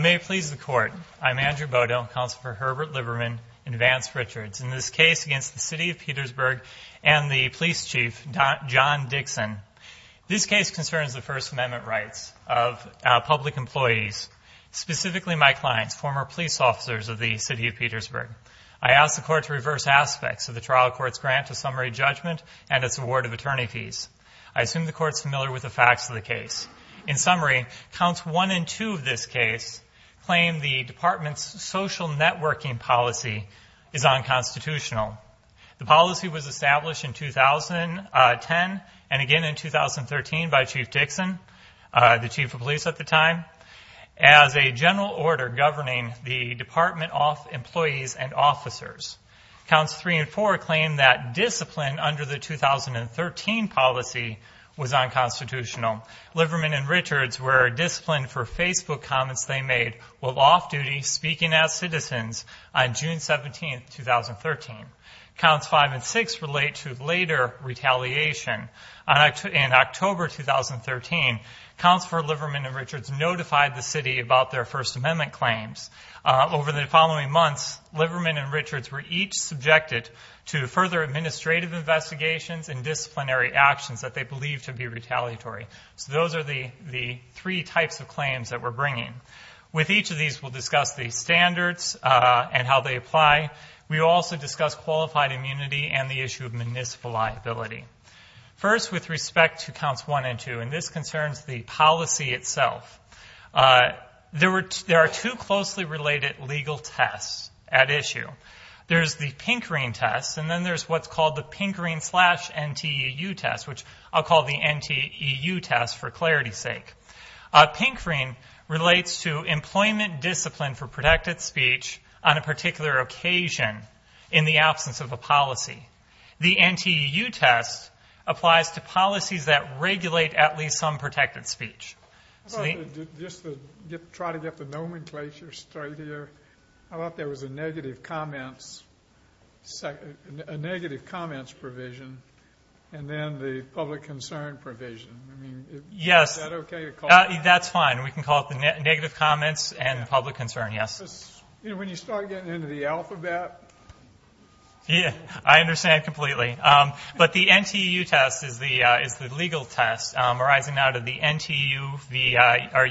May it please the Court, I'm Andrew Bodell, Counselor for Herbert Liverman and Vance Richards. In this case against the City of Petersburg and the Police Chief, John Dixon, this case concerns the First Amendment rights of public employees, specifically my clients, former police officers of the City of Petersburg. I ask the Court to reverse aspects of the trial court's grant of summary judgment and its award of attorney fees. I assume the Court is familiar with the facts of the case. In summary, counts 1 and 2 of this case claim the Department's social networking policy is unconstitutional. The policy was established in 2010 and again in 2013 by Chief Dixon, the Chief of Police at the time, as a general order governing the Department of Employees and Officers. Counts 3 and 4 claim that discipline under the 2013 policy was unconstitutional. Liverman and Richards were disciplined for Facebook comments they made while off-duty speaking as citizens on June 17, 2013. Counts 5 and 6 relate to later retaliation. In October 2013, Counselors for Liverman and Richards notified the City about their First Amendment claims. Over the following months, Liverman and Richards were each subjected to further administrative investigations and disciplinary actions that they believed to be retaliatory. So those are the three types of claims that we're bringing. With each of these, we'll discuss the standards and how they apply. We will also discuss qualified immunity and the issue of municipal liability. First, with respect to counts 1 and 2, and this concerns the policy itself, there are two closely related legal tests at issue. There's the Pinkering test, and then there's what's called the Pinkering slash NTEU test, which I'll call the NTEU test for clarity's sake. Pinkering relates to employment discipline for protected speech on a particular occasion in the absence of a policy. The NTEU test applies to policies that regulate at least some protected speech. Just to try to get the nomenclature straight here, I thought there was a negative comments provision and then the public concern provision. Yes, that's fine. We can call it the negative comments and the public concern, yes. When you start getting into the alphabet. Yeah, I understand completely. But the NTEU test is the legal test arising out of the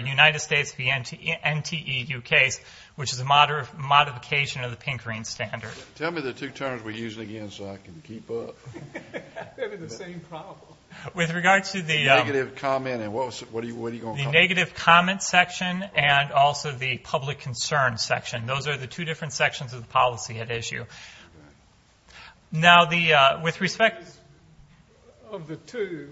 United States NTEU case, which is a modification of the Pinkering standard. Tell me the two terms we're using again so I can keep up. Maybe the same problem. With regard to the negative comment section and also the public concern section. Those are the two different sections of the policy at issue. Now, with respect... Of the two,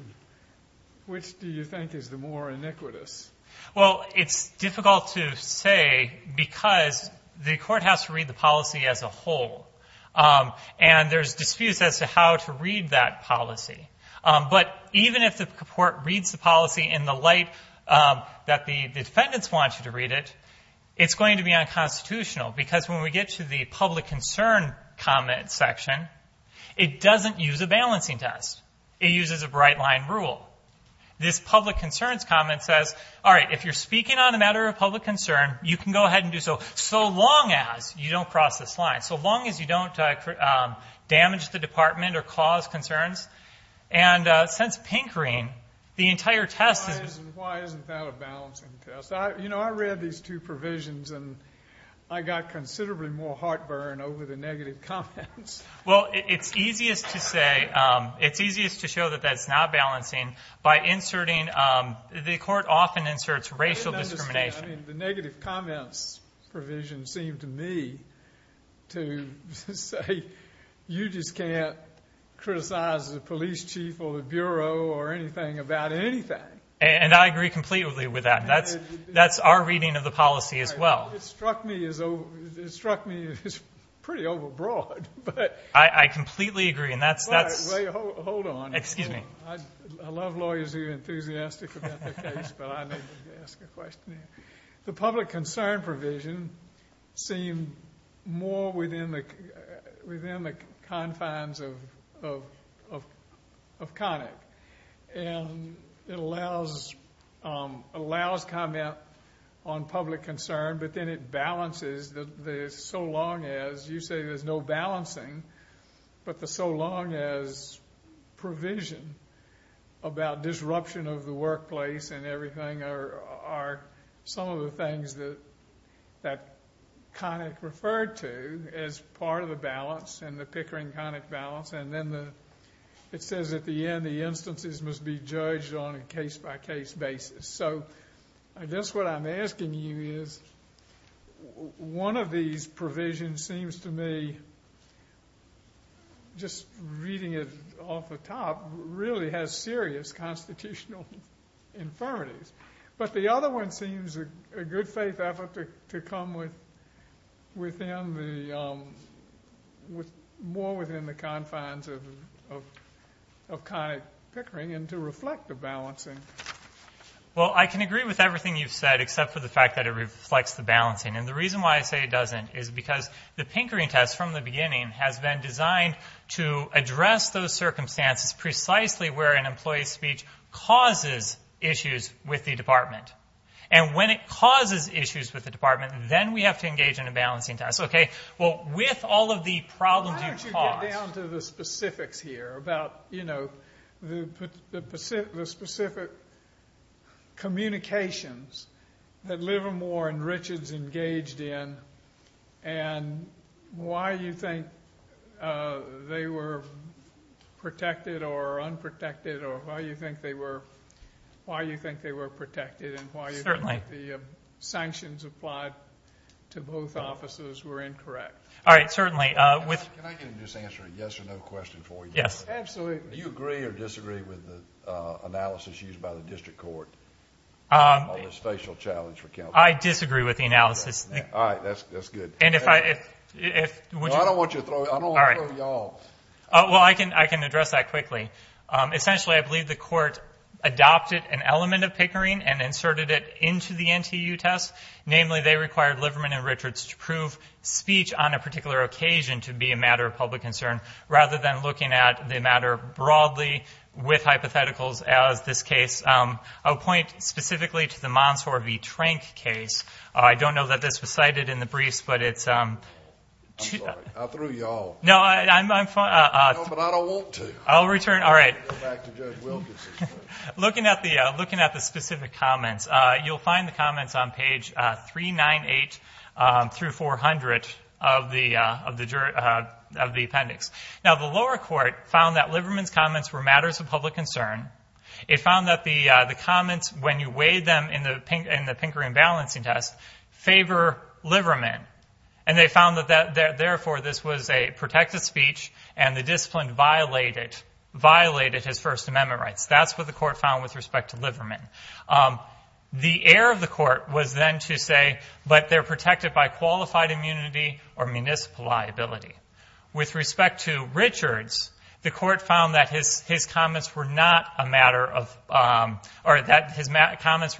which do you think is the more iniquitous? Well, it's difficult to say because the court has to read the policy as a whole. And there's disputes as to how to read that policy. But even if the court reads the policy in the light that the defendants want you to read it, it's going to be unconstitutional. Because when we get to the public concern comment section, it doesn't use a balancing test. It uses a bright-line rule. This public concerns comment says, all right, if you're speaking on a matter of public concern, you can go ahead and do so. So long as you don't cross this line. So long as you don't damage the department or cause concerns. And since Pinkering, the entire test is... Why isn't that a balancing test? You know, I read these two provisions, and I got considerably more heartburn over the negative comments. Well, it's easiest to say, it's easiest to show that that's not balancing by inserting... The court often inserts racial discrimination. I mean, the negative comments provision seemed to me to say, you just can't criticize the police chief or the bureau or anything about anything. And I agree completely with that. That's our reading of the policy as well. It struck me as pretty overbroad, but... I completely agree, and that's... Wait, hold on. Excuse me. I love lawyers who are enthusiastic about their case, but I need to ask a question here. The public concern provision seemed more within the confines of CONIC. And it allows comment on public concern, but then it balances the so long as you say there's no balancing, but the so long as provision about disruption of the workplace and everything are some of the things that CONIC referred to as part of the balance, and the Pinkering-CONIC balance. And then it says at the end, the instances must be judged on a case-by-case basis. So I guess what I'm asking you is, one of these provisions seems to me, just reading it off the top, really has serious constitutional infirmities. But the other one seems a good faith effort to come within the... more within the confines of CONIC Pinkering and to reflect the balancing. Well, I can agree with everything you've said, except for the fact that it reflects the balancing. And the reason why I say it doesn't is because the Pinkering test from the beginning has been designed to address those circumstances precisely where an employee's speech causes issues with the department. And when it causes issues with the department, then we have to engage in a balancing test. Okay, well, with all of the problems you've caused... Why don't you get down to the specifics here about, you know, the specific communications that Livermore and Richards engaged in and why you think they were protected or unprotected or why you think they were protected and why you think the sanctions applied to both offices were incorrect. All right, certainly. Can I get him to just answer a yes or no question for you? Yes. Absolutely. Do you agree or disagree with the analysis used by the district court on this facial challenge for counsel? I disagree with the analysis. All right, that's good. And if I... No, I don't want you to throw it. I don't want to throw it at you all. Well, I can address that quickly. Essentially, I believe the court adopted an element of Pinkering and inserted it into the NTU test. Namely, they required Livermore and Richards to prove speech on a particular occasion to be a matter of public concern rather than looking at the matter broadly with hypotheticals as this case. I'll point specifically to the Mansour v. Trank case. I don't know that this was cited in the briefs, but it's... I'm sorry. I threw you all. No, I'm fine. No, but I don't want to. I'll return. All right. I'll go back to Judge Wilkins. Looking at the specific comments, you'll find the comments on page 398 through 400 of the appendix. Now, the lower court found that Livermore's comments were matters of public concern. It found that the comments, when you weighed them in the Pinkering balancing test, favor Liverman, and they found that, therefore, this was a protected speech and the discipline violated his First Amendment rights. That's what the court found with respect to Liverman. The air of the court was then to say, but they're protected by qualified immunity or municipal liability. With respect to Richards, the court found that his comments were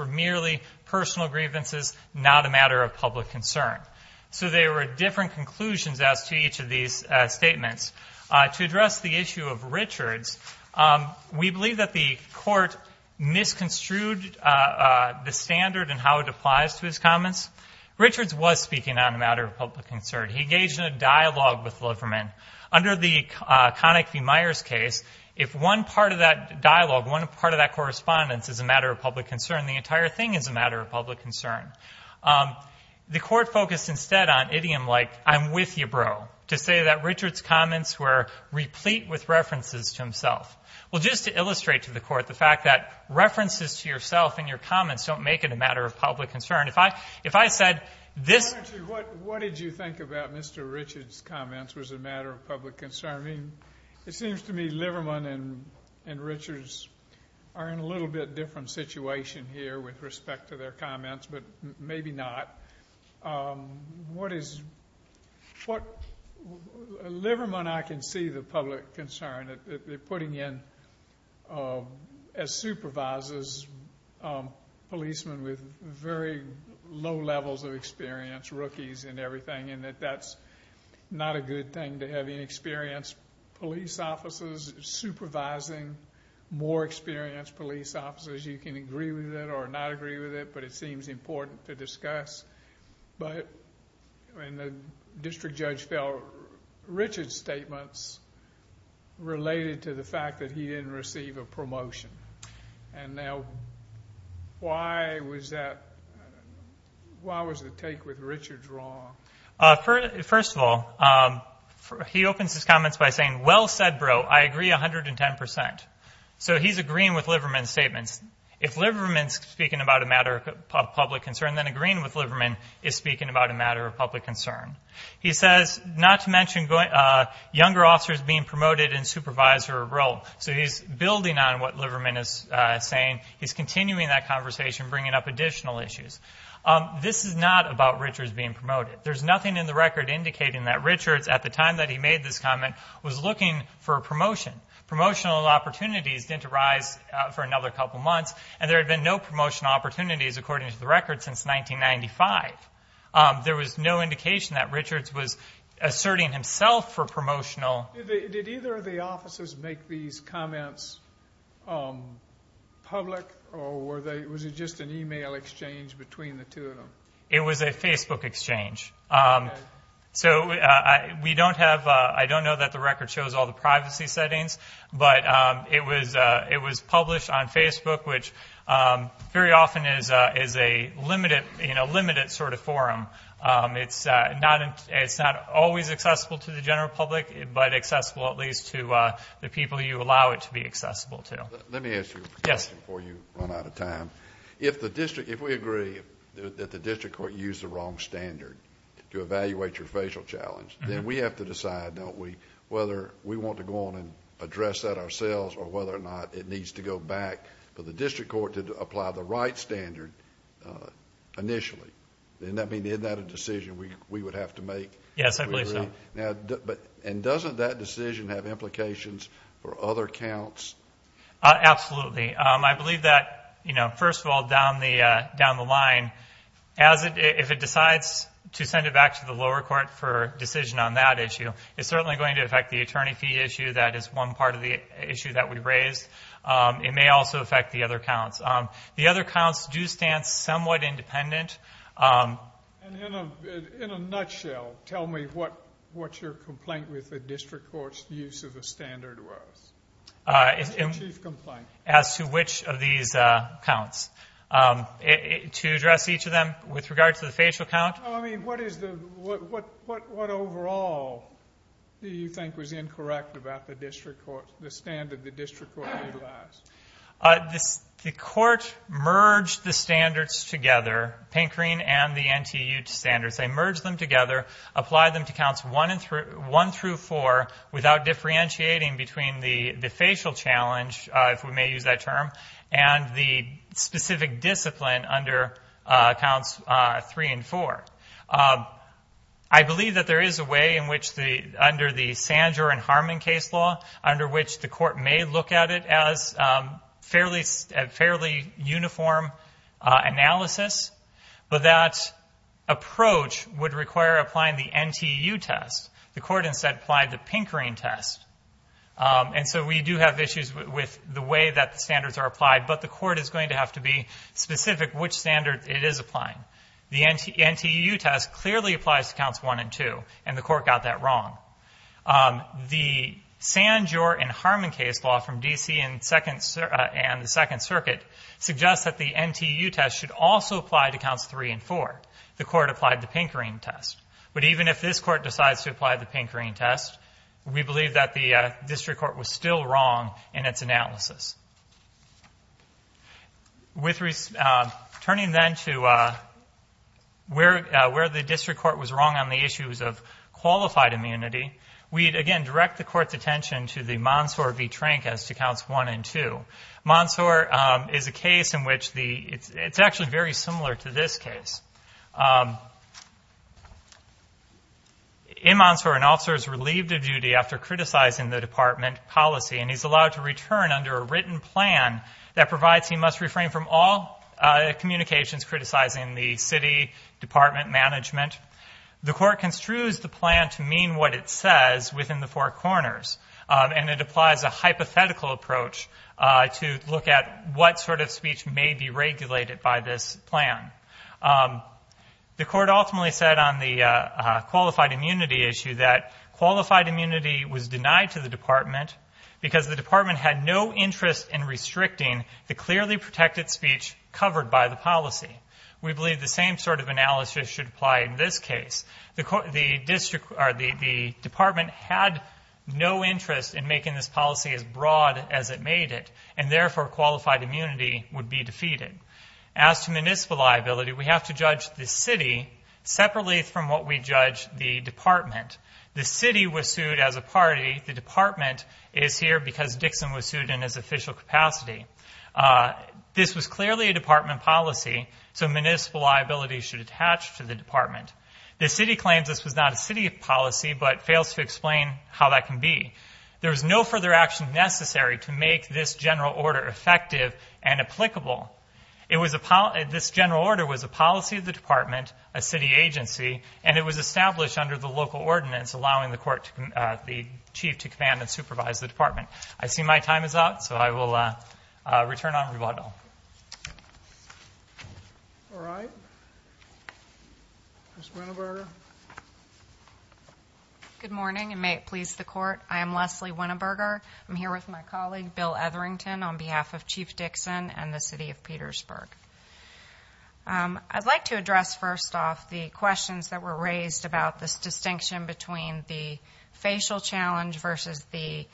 merely personal grievances, not a matter of public concern. So there were different conclusions as to each of these statements. To address the issue of Richards, we believe that the court misconstrued the standard and how it applies to his comments. Richards was speaking on a matter of public concern. He engaged in a dialogue with Liverman. Under the Connick v. Myers case, if one part of that dialogue, one part of that correspondence is a matter of public concern, the entire thing is a matter of public concern. The court focused instead on idiom-like, I'm with you, bro, to say that Richards' comments were replete with references to himself. Well, just to illustrate to the court the fact that references to yourself and your comments don't make it a matter of public concern. If I said this... What did you think about Mr. Richards' comments was a matter of public concern? It seems to me Liverman and Richards are in a little bit different situation here with respect to their comments, but maybe not. What is... Liverman, I can see the public concern that they're putting in as supervisors, policemen with very low levels of experience, rookies and everything, and that that's not a good thing to have inexperienced police officers supervising more experienced police officers. You can agree with it or not agree with it, but it seems important to discuss. The district judge felt Richards' statements related to the fact that he didn't receive a promotion. And now why was that... Why was the take with Richards wrong? First of all, he opens his comments by saying, well said, bro, I agree 110%. So he's agreeing with Liverman's statements. If Liverman's speaking about a matter of public concern, then agreeing with Liverman is speaking about a matter of public concern. He says not to mention younger officers being promoted in supervisor role. So he's building on what Liverman is saying. He's continuing that conversation, bringing up additional issues. This is not about Richards being promoted. There's nothing in the record indicating that Richards, at the time that he made this comment, was looking for a promotion. Promotional opportunities didn't arise for another couple months, and there had been no promotional opportunities, according to the record, since 1995. There was no indication that Richards was asserting himself for promotional... Did either of the officers make these comments public, or was it just an e-mail exchange between the two of them? It was a Facebook exchange. So we don't have... I don't know that the record shows all the privacy settings, but it was published on Facebook, which very often is a limited sort of forum. It's not always accessible to the general public, but accessible at least to the people you allow it to be accessible to. Let me ask you a question before you run out of time. If we agree that the district court used the wrong standard to evaluate your facial challenge, then we have to decide, don't we, whether we want to go on and address that ourselves or whether or not it needs to go back for the district court to apply the right standard initially. Isn't that a decision we would have to make? Yes, I believe so. And doesn't that decision have implications for other counts? Absolutely. I believe that, first of all, down the line, if it decides to send it back to the lower court for a decision on that issue, it's certainly going to affect the attorney fee issue. That is one part of the issue that we raised. It may also affect the other counts. The other counts do stand somewhat independent. And in a nutshell, tell me what your complaint with the district court's use of the standard was. Your chief complaint. As to which of these counts. To address each of them with regard to the facial count? I mean, what overall do you think was incorrect about the standard the district court utilized? The court merged the standards together, Pinkreen and the NTU standards. They merged them together, applied them to counts one through four without differentiating between the facial challenge, if we may use that term, and the specific discipline under counts three and four. I believe that there is a way in which, under the Sandor and Harmon case law, under which the court may look at it as fairly uniform analysis, but that approach would require applying the NTU test. The court instead applied the Pinkreen test. And so we do have issues with the way that the standards are applied, but the court is going to have to be specific which standard it is applying. The NTU test clearly applies to counts one and two, and the court got that wrong. The Sandor and Harmon case law from D.C. and the Second Circuit suggests that the NTU test should also apply to counts three and four. The court applied the Pinkreen test. But even if this court decides to apply the Pinkreen test, we believe that the district court was still wrong in its analysis. Turning then to where the district court was wrong on the issues of qualified immunity, we again direct the court's attention to the Mansour v. Trank as to counts one and two. Mansour is a case in which it's actually very similar to this case. In Mansour, an officer is relieved of duty after criticizing the department policy, and he's allowed to return under a written plan that provides he must refrain from all communications criticizing the city, department, management. The court construes the plan to mean what it says within the four corners, and it applies a hypothetical approach to look at what sort of speech may be regulated by this plan. The court ultimately said on the qualified immunity issue that qualified immunity was denied to the department because the department had no interest in restricting the clearly protected speech covered by the policy. We believe the same sort of analysis should apply in this case. The department had no interest in making this policy as broad as it made it, and therefore qualified immunity would be defeated. As to municipal liability, we have to judge the city separately from what we judge the department. The city was sued as a party. The department is here because Dixon was sued in his official capacity. This was clearly a department policy, so municipal liability should attach to the department. The city claims this was not a city policy but fails to explain how that can be. There is no further action necessary to make this general order effective and applicable. This general order was a policy of the department, a city agency, and it was established under the local ordinance allowing the chief to command and supervise the department. I see my time is up, so I will return on rebuttal. Ms. Winneberger. Good morning, and may it please the court. I am Leslie Winneberger. I'm here with my colleague, Bill Etherington, on behalf of Chief Dixon and the city of Petersburg. I'd like to address first off the questions that were raised about this distinction between the facial challenge versus the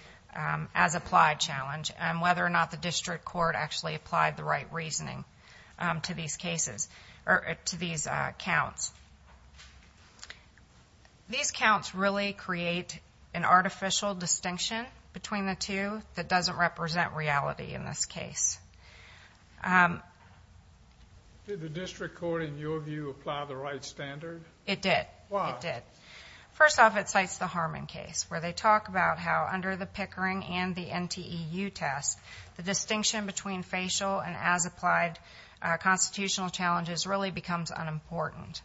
as-applied challenge and whether or not the district court actually applied the right reasoning to these counts. These counts really create an artificial distinction between the two that doesn't represent reality in this case. Did the district court, in your view, apply the right standard? It did. Why? First off, it cites the Harmon case, where they talk about how under the Pickering and the NTEU test, the distinction between facial and as-applied constitutional challenges really becomes unimportant.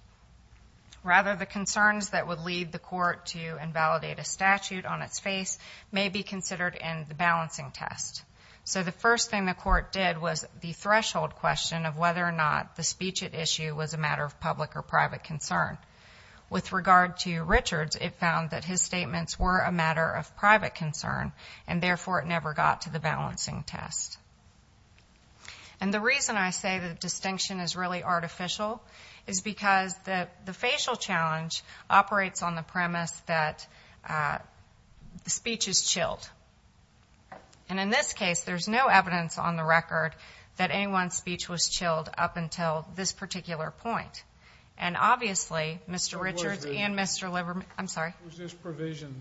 Rather, the concerns that would lead the court to invalidate a statute on its face may be considered in the balancing test. So the first thing the court did was the threshold question of whether or not the speech at issue was a matter of public or private concern. With regard to Richards, it found that his statements were a matter of private concern, and therefore it never got to the balancing test. And the reason I say the distinction is really artificial is because the facial challenge operates on the premise that speech is chilled. And in this case, there's no evidence on the record that anyone's speech was chilled up until this particular point. And obviously, Mr. Richards and Mr. Liverman Was this provision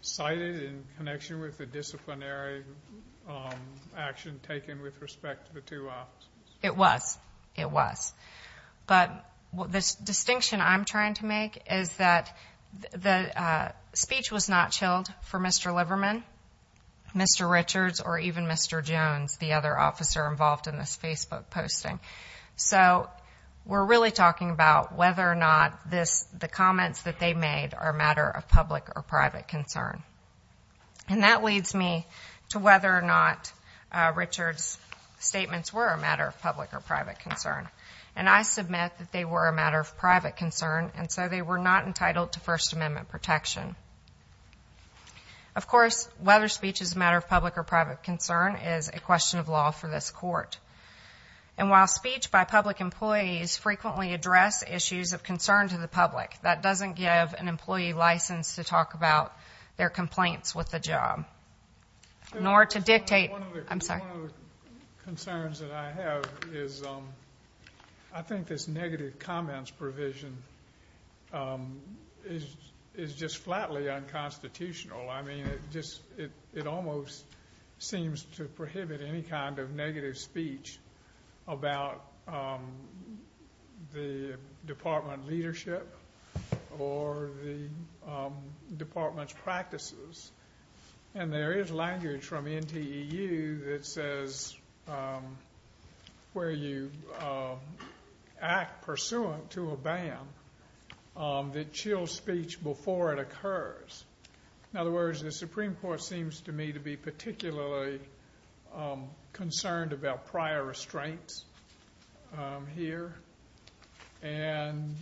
cited in connection with the disciplinary action taken with respect to the two offices? It was. It was. But the distinction I'm trying to make is that the speech was not chilled for Mr. Liverman, Mr. Richards, or even Mr. Jones, the other officer involved in this Facebook posting. So we're really talking about whether or not the comments that they made are a matter of public or private concern. And that leads me to whether or not Richards' statements were a matter of public or private concern. And I submit that they were a matter of private concern, and so they were not entitled to First Amendment protection. Of course, whether speech is a matter of public or private concern is a question of law for this court. And while speech by public employees frequently address issues of concern to the public, that doesn't give an employee license to talk about their complaints with the job. Nor to dictate... One of the concerns that I have is I think this negative comments provision is just flatly unconstitutional. I mean, it almost seems to prohibit any kind of negative speech about the department leadership or the department's practices. And there is language from NTEU that says where you act pursuant to a ban that chills speech before it occurs. In other words, the Supreme Court seems to me to be particularly concerned about prior restraints here. And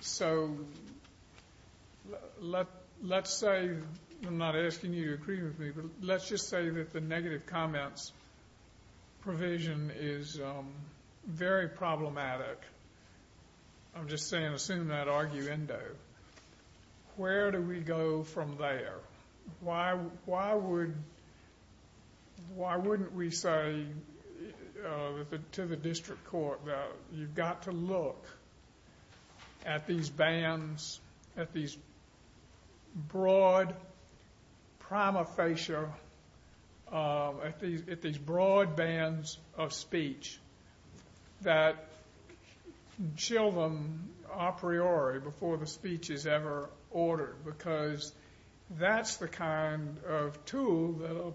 so let's say, I'm not asking you to agree with me, but let's just say that the negative comments provision is very problematic. I'm just saying, assume that arguendo. Where do we go from there? Why wouldn't we say to the district court that you've got to look at these broad bands of speech that chill them a priori before the speech is ever ordered? Because that's the kind of tool that a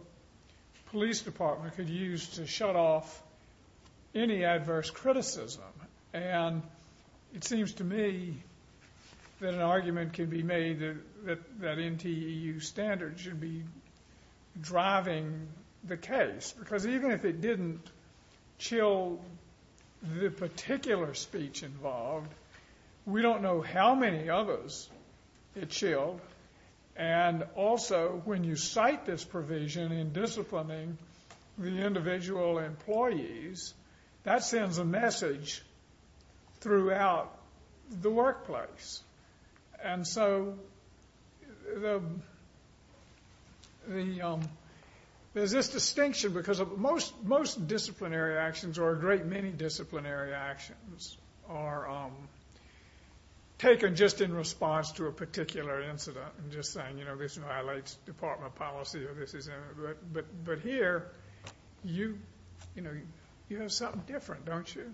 police department could use to shut off any adverse criticism. And it seems to me that an argument can be made that NTEU standards should be driving the case. Because even if it didn't chill the particular speech involved, and also when you cite this provision in disciplining the individual employees, that sends a message throughout the workplace. And so there's this distinction because most disciplinary actions or a great many disciplinary actions are taken just in response to a particular incident. I'm just saying this violates department policy. But here you have something different, don't you?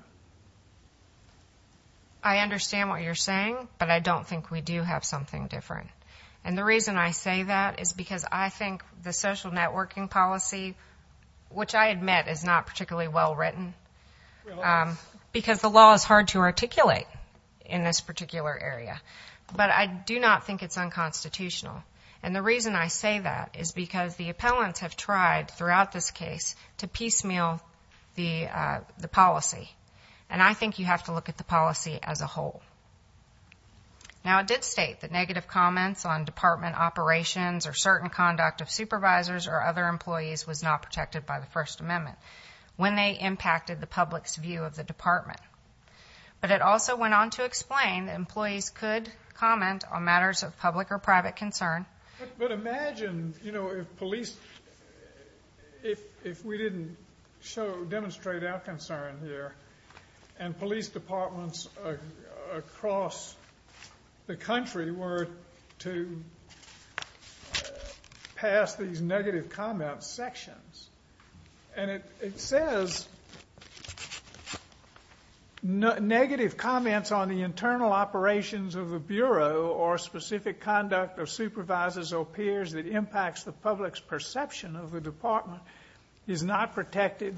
I understand what you're saying, but I don't think we do have something different. And the reason I say that is because I think the social networking policy, which I admit is not particularly well written, because the law is hard to articulate in this particular area. But I do not think it's unconstitutional. And the reason I say that is because the appellants have tried throughout this case to piecemeal the policy. And I think you have to look at the policy as a whole. Now, it did state that negative comments on department operations or certain conduct of supervisors or other employees was not protected by the First Amendment. When they impacted the public's view of the department. But it also went on to explain that employees could comment on matters of public or private concern. But imagine if we didn't demonstrate our concern here and police departments across the country were to pass these negative comment sections. And it says, negative comments on the internal operations of the Bureau or specific conduct of supervisors or peers that impacts the public's perception of the department is not protected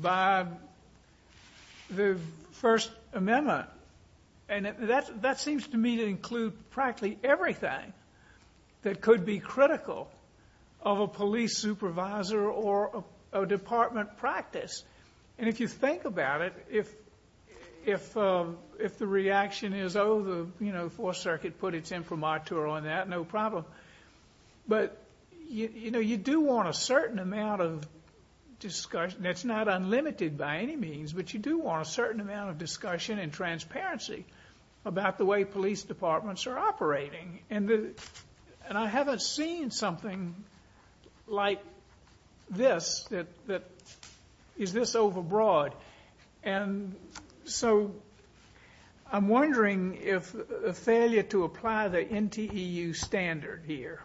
by the First Amendment. And that seems to me to include practically everything that could be critical of a police supervisor or a department practice. And if you think about it, if the reaction is, oh, the Fourth Circuit put its imprimatur on that, no problem. But you do want a certain amount of discussion. It's not unlimited by any means, but you do want a certain amount of discussion and transparency about the way police departments are operating. And I haven't seen something like this that is this overbroad. And so I'm wondering if a failure to apply the NTEU standard here,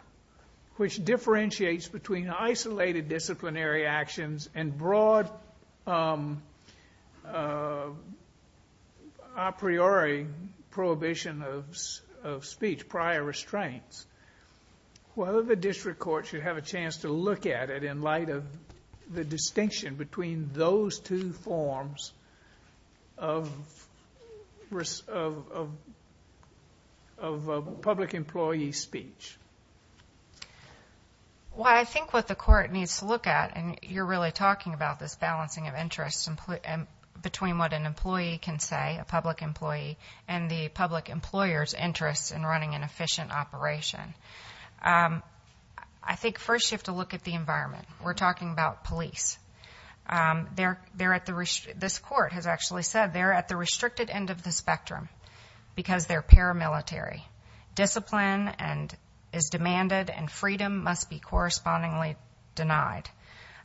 which differentiates between isolated disciplinary actions and broad a priori prohibition of speech, prior restraints, whether the district court should have a chance to look at it in light of the distinction between those two forms of public employee speech. Well, I think what the court needs to look at, and you're really talking about this balancing of interests between what an employee can say, a public employee, and the public employer's interests in running an efficient operation. I think first you have to look at the environment. We're talking about police. This court has actually said they're at the restricted end of the spectrum because they're paramilitary. Discipline is demanded, and freedom must be correspondingly denied.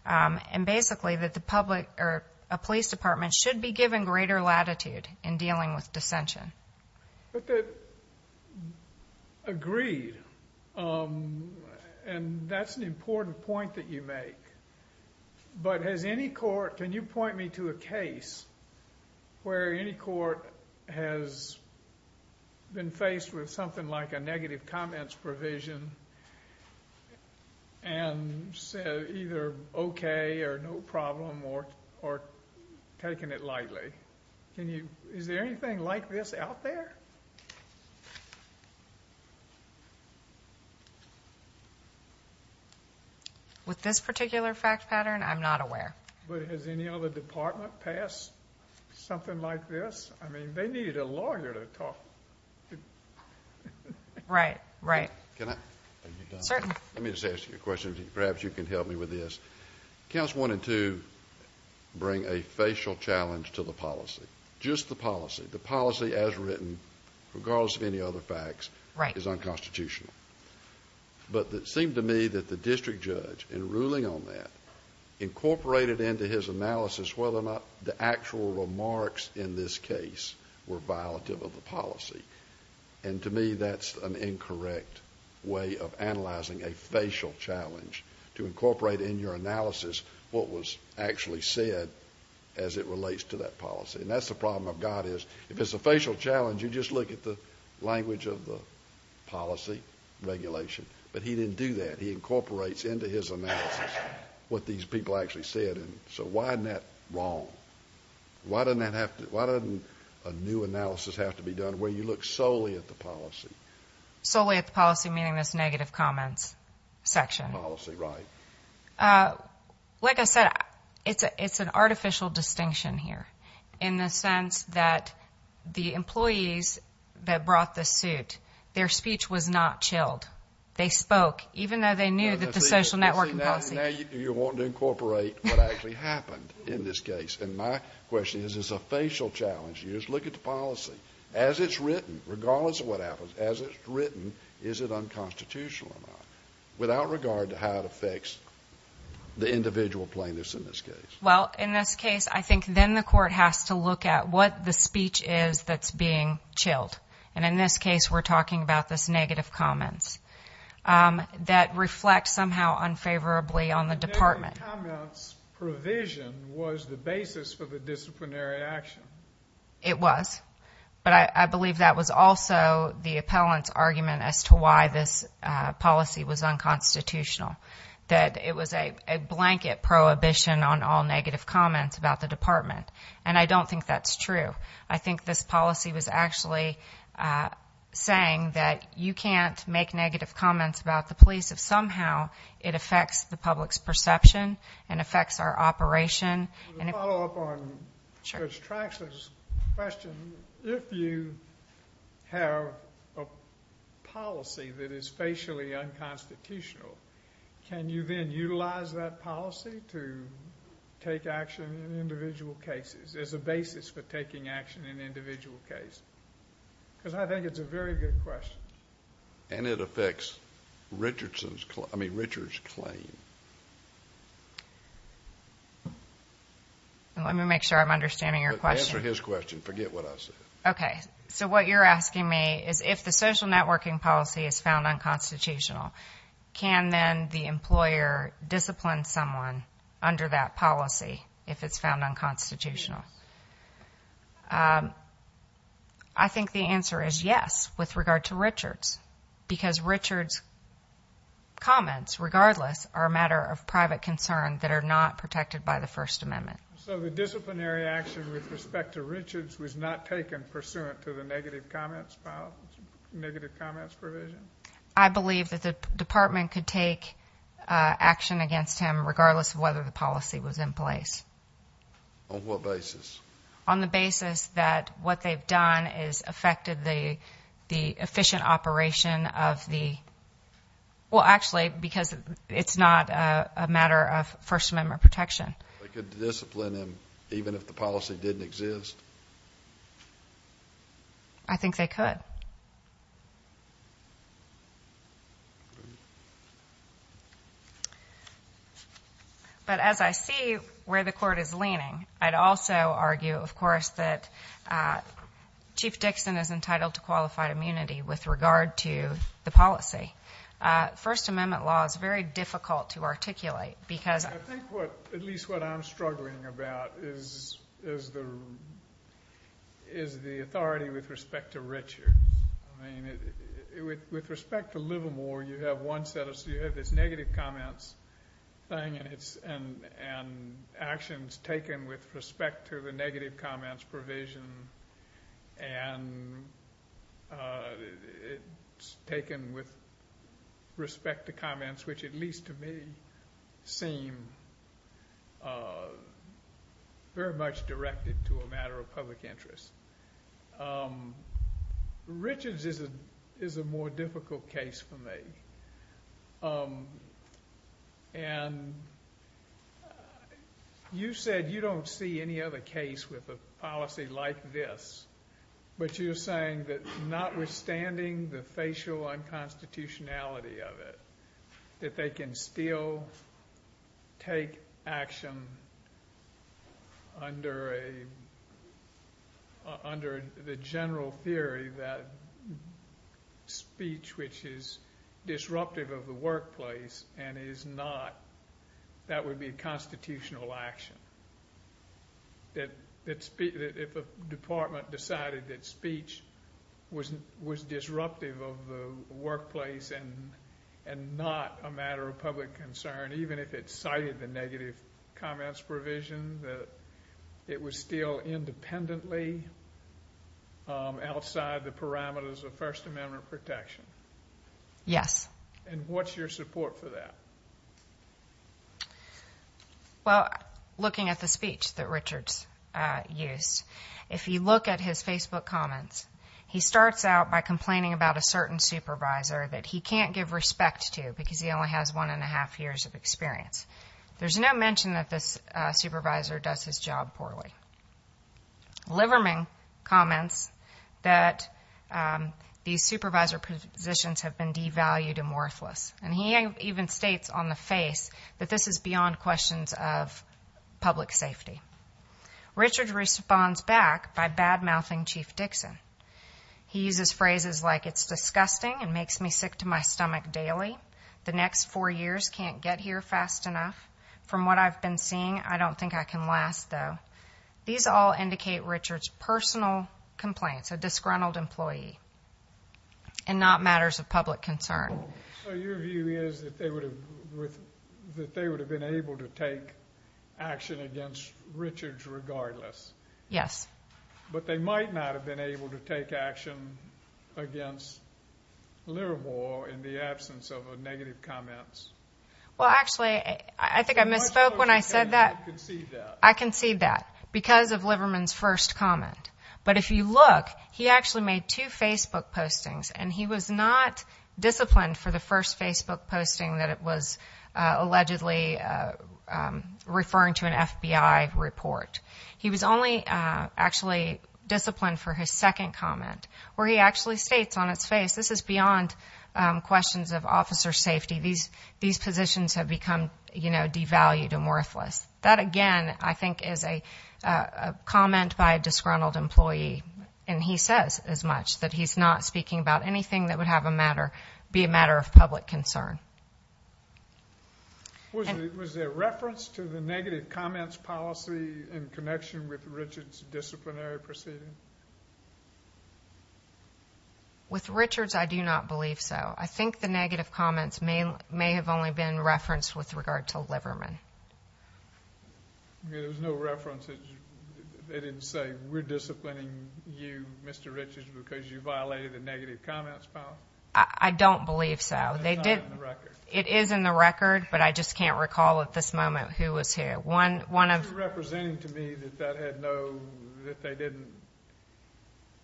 And basically, a police department should be given greater latitude in dealing with dissension. Agreed. And that's an important point that you make. But can you point me to a case where any court has been faced with something like a negative comments provision Is there anything like this out there? With this particular fact pattern, I'm not aware. But has any other department passed something like this? I mean, they need a lawyer to talk. Right, right. Let me just ask you a question. Perhaps you can help me with this. Counts 1 and 2 bring a facial challenge to the policy. Just the policy. The policy as written, regardless of any other facts, is unconstitutional. But it seemed to me that the district judge, in ruling on that, incorporated into his analysis whether or not the actual remarks in this case were violative of the policy. And to me, that's an incorrect way of analyzing a facial challenge to incorporate in your analysis what was actually said as it relates to that policy. And that's the problem of God. If it's a facial challenge, you just look at the language of the policy regulation. But he didn't do that. He incorporates into his analysis what these people actually said. So why isn't that wrong? Why doesn't a new analysis have to be done where you look solely at the policy? Solely at the policy, meaning this negative comments section. Policy, right. Like I said, it's an artificial distinction here, in the sense that the employees that brought this suit, their speech was not chilled. They spoke, even though they knew that the social networking policy. Now you want to incorporate what actually happened in this case. And my question is, is this a facial challenge? You just look at the policy. As it's written, regardless of what happens, as it's written, is it unconstitutional or not? Without regard to how it affects the individual plaintiffs in this case. Well, in this case, I think then the court has to look at what the speech is that's being chilled. And in this case, we're talking about this negative comments that reflect somehow unfavorably on the department. Negative comments provision was the basis for the disciplinary action. It was. But I believe that was also the appellant's argument as to why this policy was unconstitutional. That it was a blanket prohibition on all negative comments about the department. And I don't think that's true. I think this policy was actually saying that you can't make negative comments about the police if somehow it affects the public's perception and affects our operation. To follow up on Judge Traxler's question, if you have a policy that is facially unconstitutional, can you then utilize that policy to take action in individual cases as a basis for taking action in an individual case? Because I think it's a very good question. And it affects Richardson's claim. I mean, Richard's claim. Let me make sure I'm understanding your question. Answer his question. Forget what I said. Okay. So what you're asking me is if the social networking policy is found unconstitutional, can then the employer discipline someone under that policy if it's found unconstitutional? I think the answer is yes with regard to Richard's. Because Richard's comments, regardless, are a matter of private concern that are not protected by the First Amendment. So the disciplinary action with respect to Richard's was not taken pursuant to the negative comments provision? I believe that the department could take action against him regardless of whether the policy was in place. On what basis? On the basis that what they've done has affected the efficient operation of the ‑‑ well, actually, because it's not a matter of First Amendment protection. They could discipline him even if the policy didn't exist? I think they could. All right. But as I see where the court is leaning, I'd also argue, of course, that Chief Dixon is entitled to qualified immunity with regard to the policy. First Amendment law is very difficult to articulate because ‑‑ With respect to Livermore, you have this negative comments thing and actions taken with respect to the negative comments provision and it's taken with respect to comments, which at least to me seem very much directed to a matter of public interest. Richard's is a more difficult case for me. And you said you don't see any other case with a policy like this, but you're saying that notwithstanding the facial unconstitutionality of it, that they can still take action under the general theory that speech, which is disruptive of the workplace and is not, that would be a constitutional action. If a department decided that speech was disruptive of the workplace and not a matter of public concern, even if it cited the negative comments provision, that it was still independently outside the parameters of First Amendment protection. Yes. And what's your support for that? Well, looking at the speech that Richard used, if you look at his Facebook comments, he starts out by complaining about a certain supervisor that he can't give respect to because he only has one and a half years of experience. There's no mention that this supervisor does his job poorly. Livermore comments that these supervisor positions have been devalued and worthless, and he even states on the face that this is beyond questions of public safety. Richard responds back by bad-mouthing Chief Dixon. He uses phrases like, It's disgusting and makes me sick to my stomach daily. The next four years can't get here fast enough. From what I've been seeing, I don't think I can last, though. These all indicate Richard's personal complaints, a disgruntled employee, and not matters of public concern. So your view is that they would have been able to take action against Richard regardless. Yes. But they might not have been able to take action against Livermore in the absence of negative comments. Well, actually, I think I misspoke when I said that. You concede that. I concede that because of Livermore's first comment. But if you look, he actually made two Facebook postings, and he was not disciplined for the first Facebook posting that it was allegedly referring to an FBI report. He was only actually disciplined for his second comment, where he actually states on its face, This is beyond questions of officer safety. These positions have become, you know, devalued and worthless. That, again, I think is a comment by a disgruntled employee, and he says as much, that he's not speaking about anything that would be a matter of public concern. Was there reference to the negative comments policy in connection with Richard's disciplinary proceeding? With Richard's, I do not believe so. I think the negative comments may have only been referenced with regard to Livermore. There was no reference that they didn't say, We're disciplining you, Mr. Richards, because you violated the negative comments policy? I don't believe so. It's not in the record. It is in the record, but I just can't recall at this moment who was who. You're representing to me that that had no, that they didn't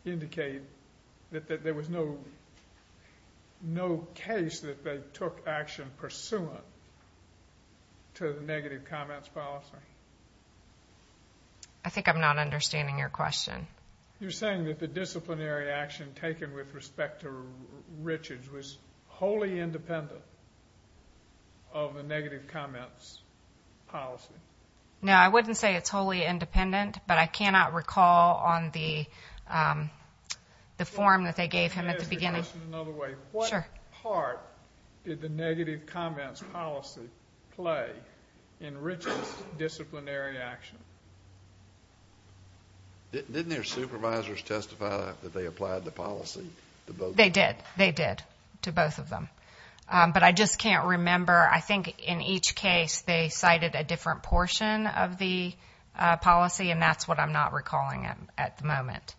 indicate, that there was no case that they took action pursuant to the negative comments policy? I think I'm not understanding your question. You're saying that the disciplinary action taken with respect to Richards was wholly independent of the negative comments policy? No, I wouldn't say it's wholly independent, but I cannot recall on the form that they gave him at the beginning. Let me ask the question another way. Sure. What part did the negative comments policy play in Richard's disciplinary action? They did. They did to both of them. But I just can't remember. I think in each case they cited a different portion of the policy, and that's what I'm not recalling at the moment.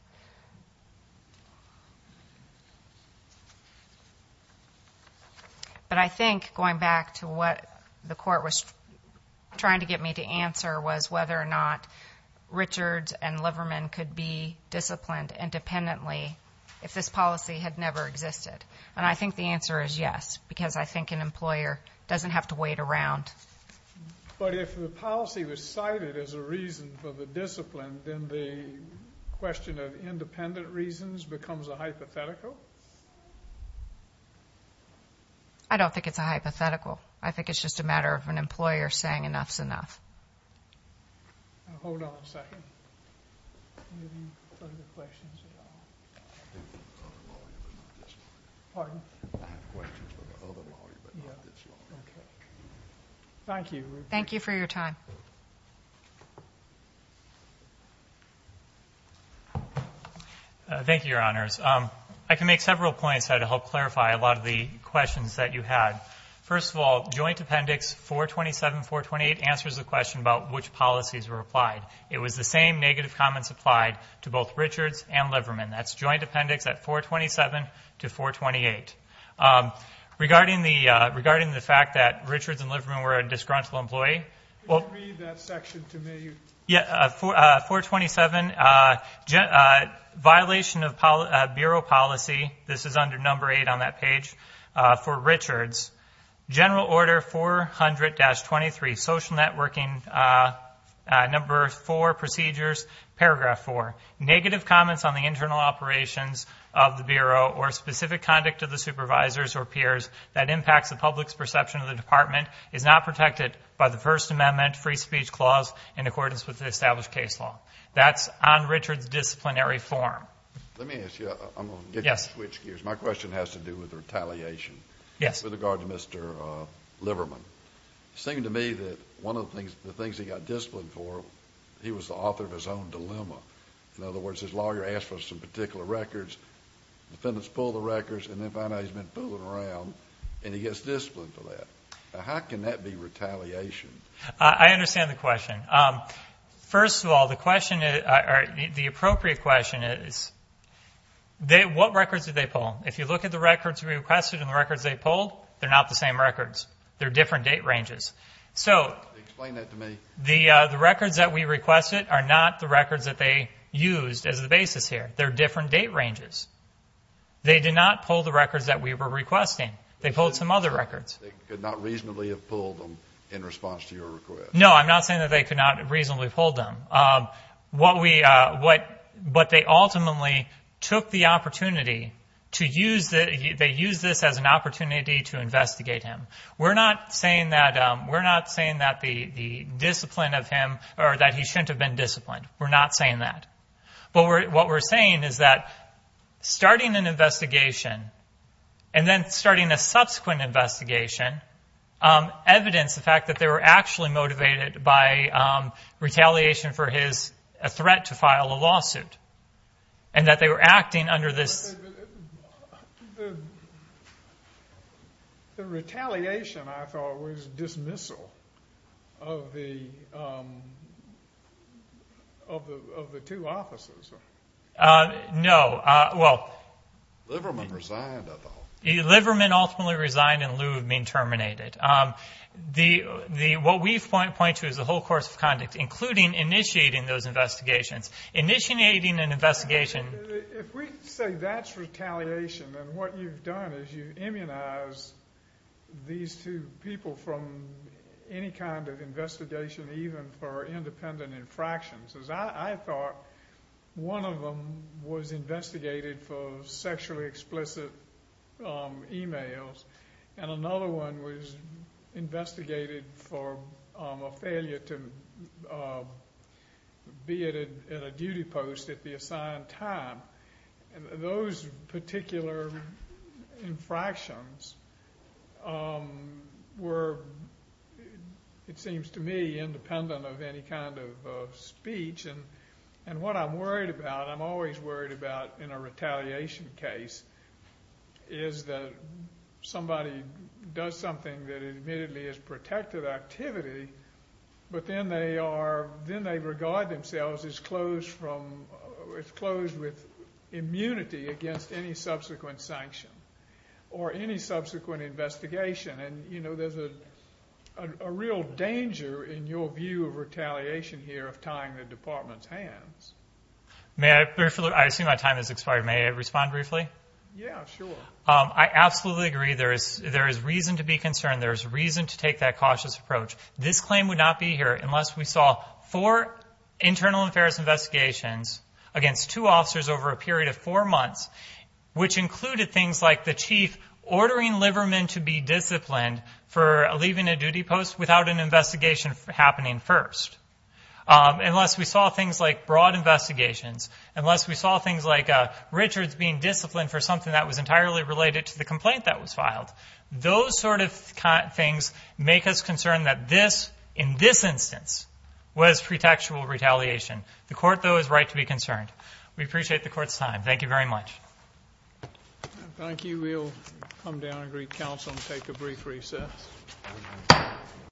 But I think, going back to what the court was trying to get me to answer, was whether or not Richards and Livermore could be disciplined independently if this policy had never existed. And I think the answer is yes, because I think an employer doesn't have to wait around. But if the policy was cited as a reason for the discipline, then the question of independent reasons becomes a hypothetical? I don't think it's a hypothetical. I think it's just a matter of an employer saying enough's enough. Now hold on a second. Any further questions at all? I have questions for the other lawyer, but not this lawyer. Pardon? I have questions for the other lawyer, but not this lawyer. Okay. Thank you. Thank you for your time. Thank you, Your Honors. I can make several points to help clarify a lot of the questions that you had. First of all, Joint Appendix 427-428 answers the question about which policies were applied. It was the same negative comments applied to both Richards and Livermore. That's Joint Appendix at 427-428. Regarding the fact that Richards and Livermore were a disgruntled employee. Can you read that section to me? 427, violation of Bureau policy. This is under Number 8 on that page for Richards. General Order 400-23, Social Networking, Number 4, Procedures, Paragraph 4. Negative comments on the internal operations of the Bureau or specific conduct of the supervisors or peers that impacts the public's perception of the Department is not protected by the First Amendment Free Speech Clause in accordance with the established case law. That's on Richards' disciplinary form. Let me ask you. I'm going to get you to switch gears. My question has to do with retaliation. Yes. With regard to Mr. Livermore. It seemed to me that one of the things he got disciplined for, he was the author of his own dilemma. In other words, his lawyer asked for some particular records. Defendants pull the records, and then find out he's been fooling around, and he gets disciplined for that. How can that be retaliation? I understand the question. First of all, the appropriate question is, what records did they pull? If you look at the records we requested and the records they pulled, they're not the same records. They're different date ranges. Explain that to me. The records that we requested are not the records that they used as the basis here. They're different date ranges. They did not pull the records that we were requesting. They pulled some other records. They could not reasonably have pulled them in response to your request. No, I'm not saying that they could not reasonably have pulled them. But they ultimately took the opportunity to use this as an opportunity to investigate him. We're not saying that the discipline of him, or that he shouldn't have been disciplined. We're not saying that. But what we're saying is that starting an investigation, and then starting a subsequent investigation, evidenced the fact that they were actually motivated by retaliation for his threat to file a lawsuit, and that they were acting under this. The retaliation, I thought, was dismissal of the two officers. No. Liverman resigned, I thought. Liverman ultimately resigned in lieu of being terminated. What we point to is the whole course of conduct, including initiating those investigations. Initiating an investigation. If we say that's retaliation, then what you've done is you've immunized these two people from any kind of investigation, even for independent infractions. I thought one of them was investigated for sexually explicit emails, and another one was investigated for a failure to be at a duty post at the assigned time. Those particular infractions were, it seems to me, independent of any kind of speech. What I'm worried about, I'm always worried about in a retaliation case, is that somebody does something that admittedly is protected activity, but then they regard themselves as closed with immunity against any subsequent sanction or any subsequent investigation. There's a real danger in your view of retaliation here of tying the department's hands. I assume my time has expired. May I respond briefly? Yeah, sure. I absolutely agree. There is reason to be concerned. There is reason to take that cautious approach. This claim would not be here unless we saw four internal affairs investigations against two officers over a period of four months, which included things like the chief ordering Liverman to be disciplined for leaving a duty post without an investigation happening first. Unless we saw things like broad investigations, unless we saw things like Richards being disciplined for something that was entirely related to the complaint that was filed, those sort of things make us concerned that this, in this instance, was pretextual retaliation. The court, though, is right to be concerned. We appreciate the court's time. Thank you very much. Thank you. We'll come down and greet counsel and take a brief recess.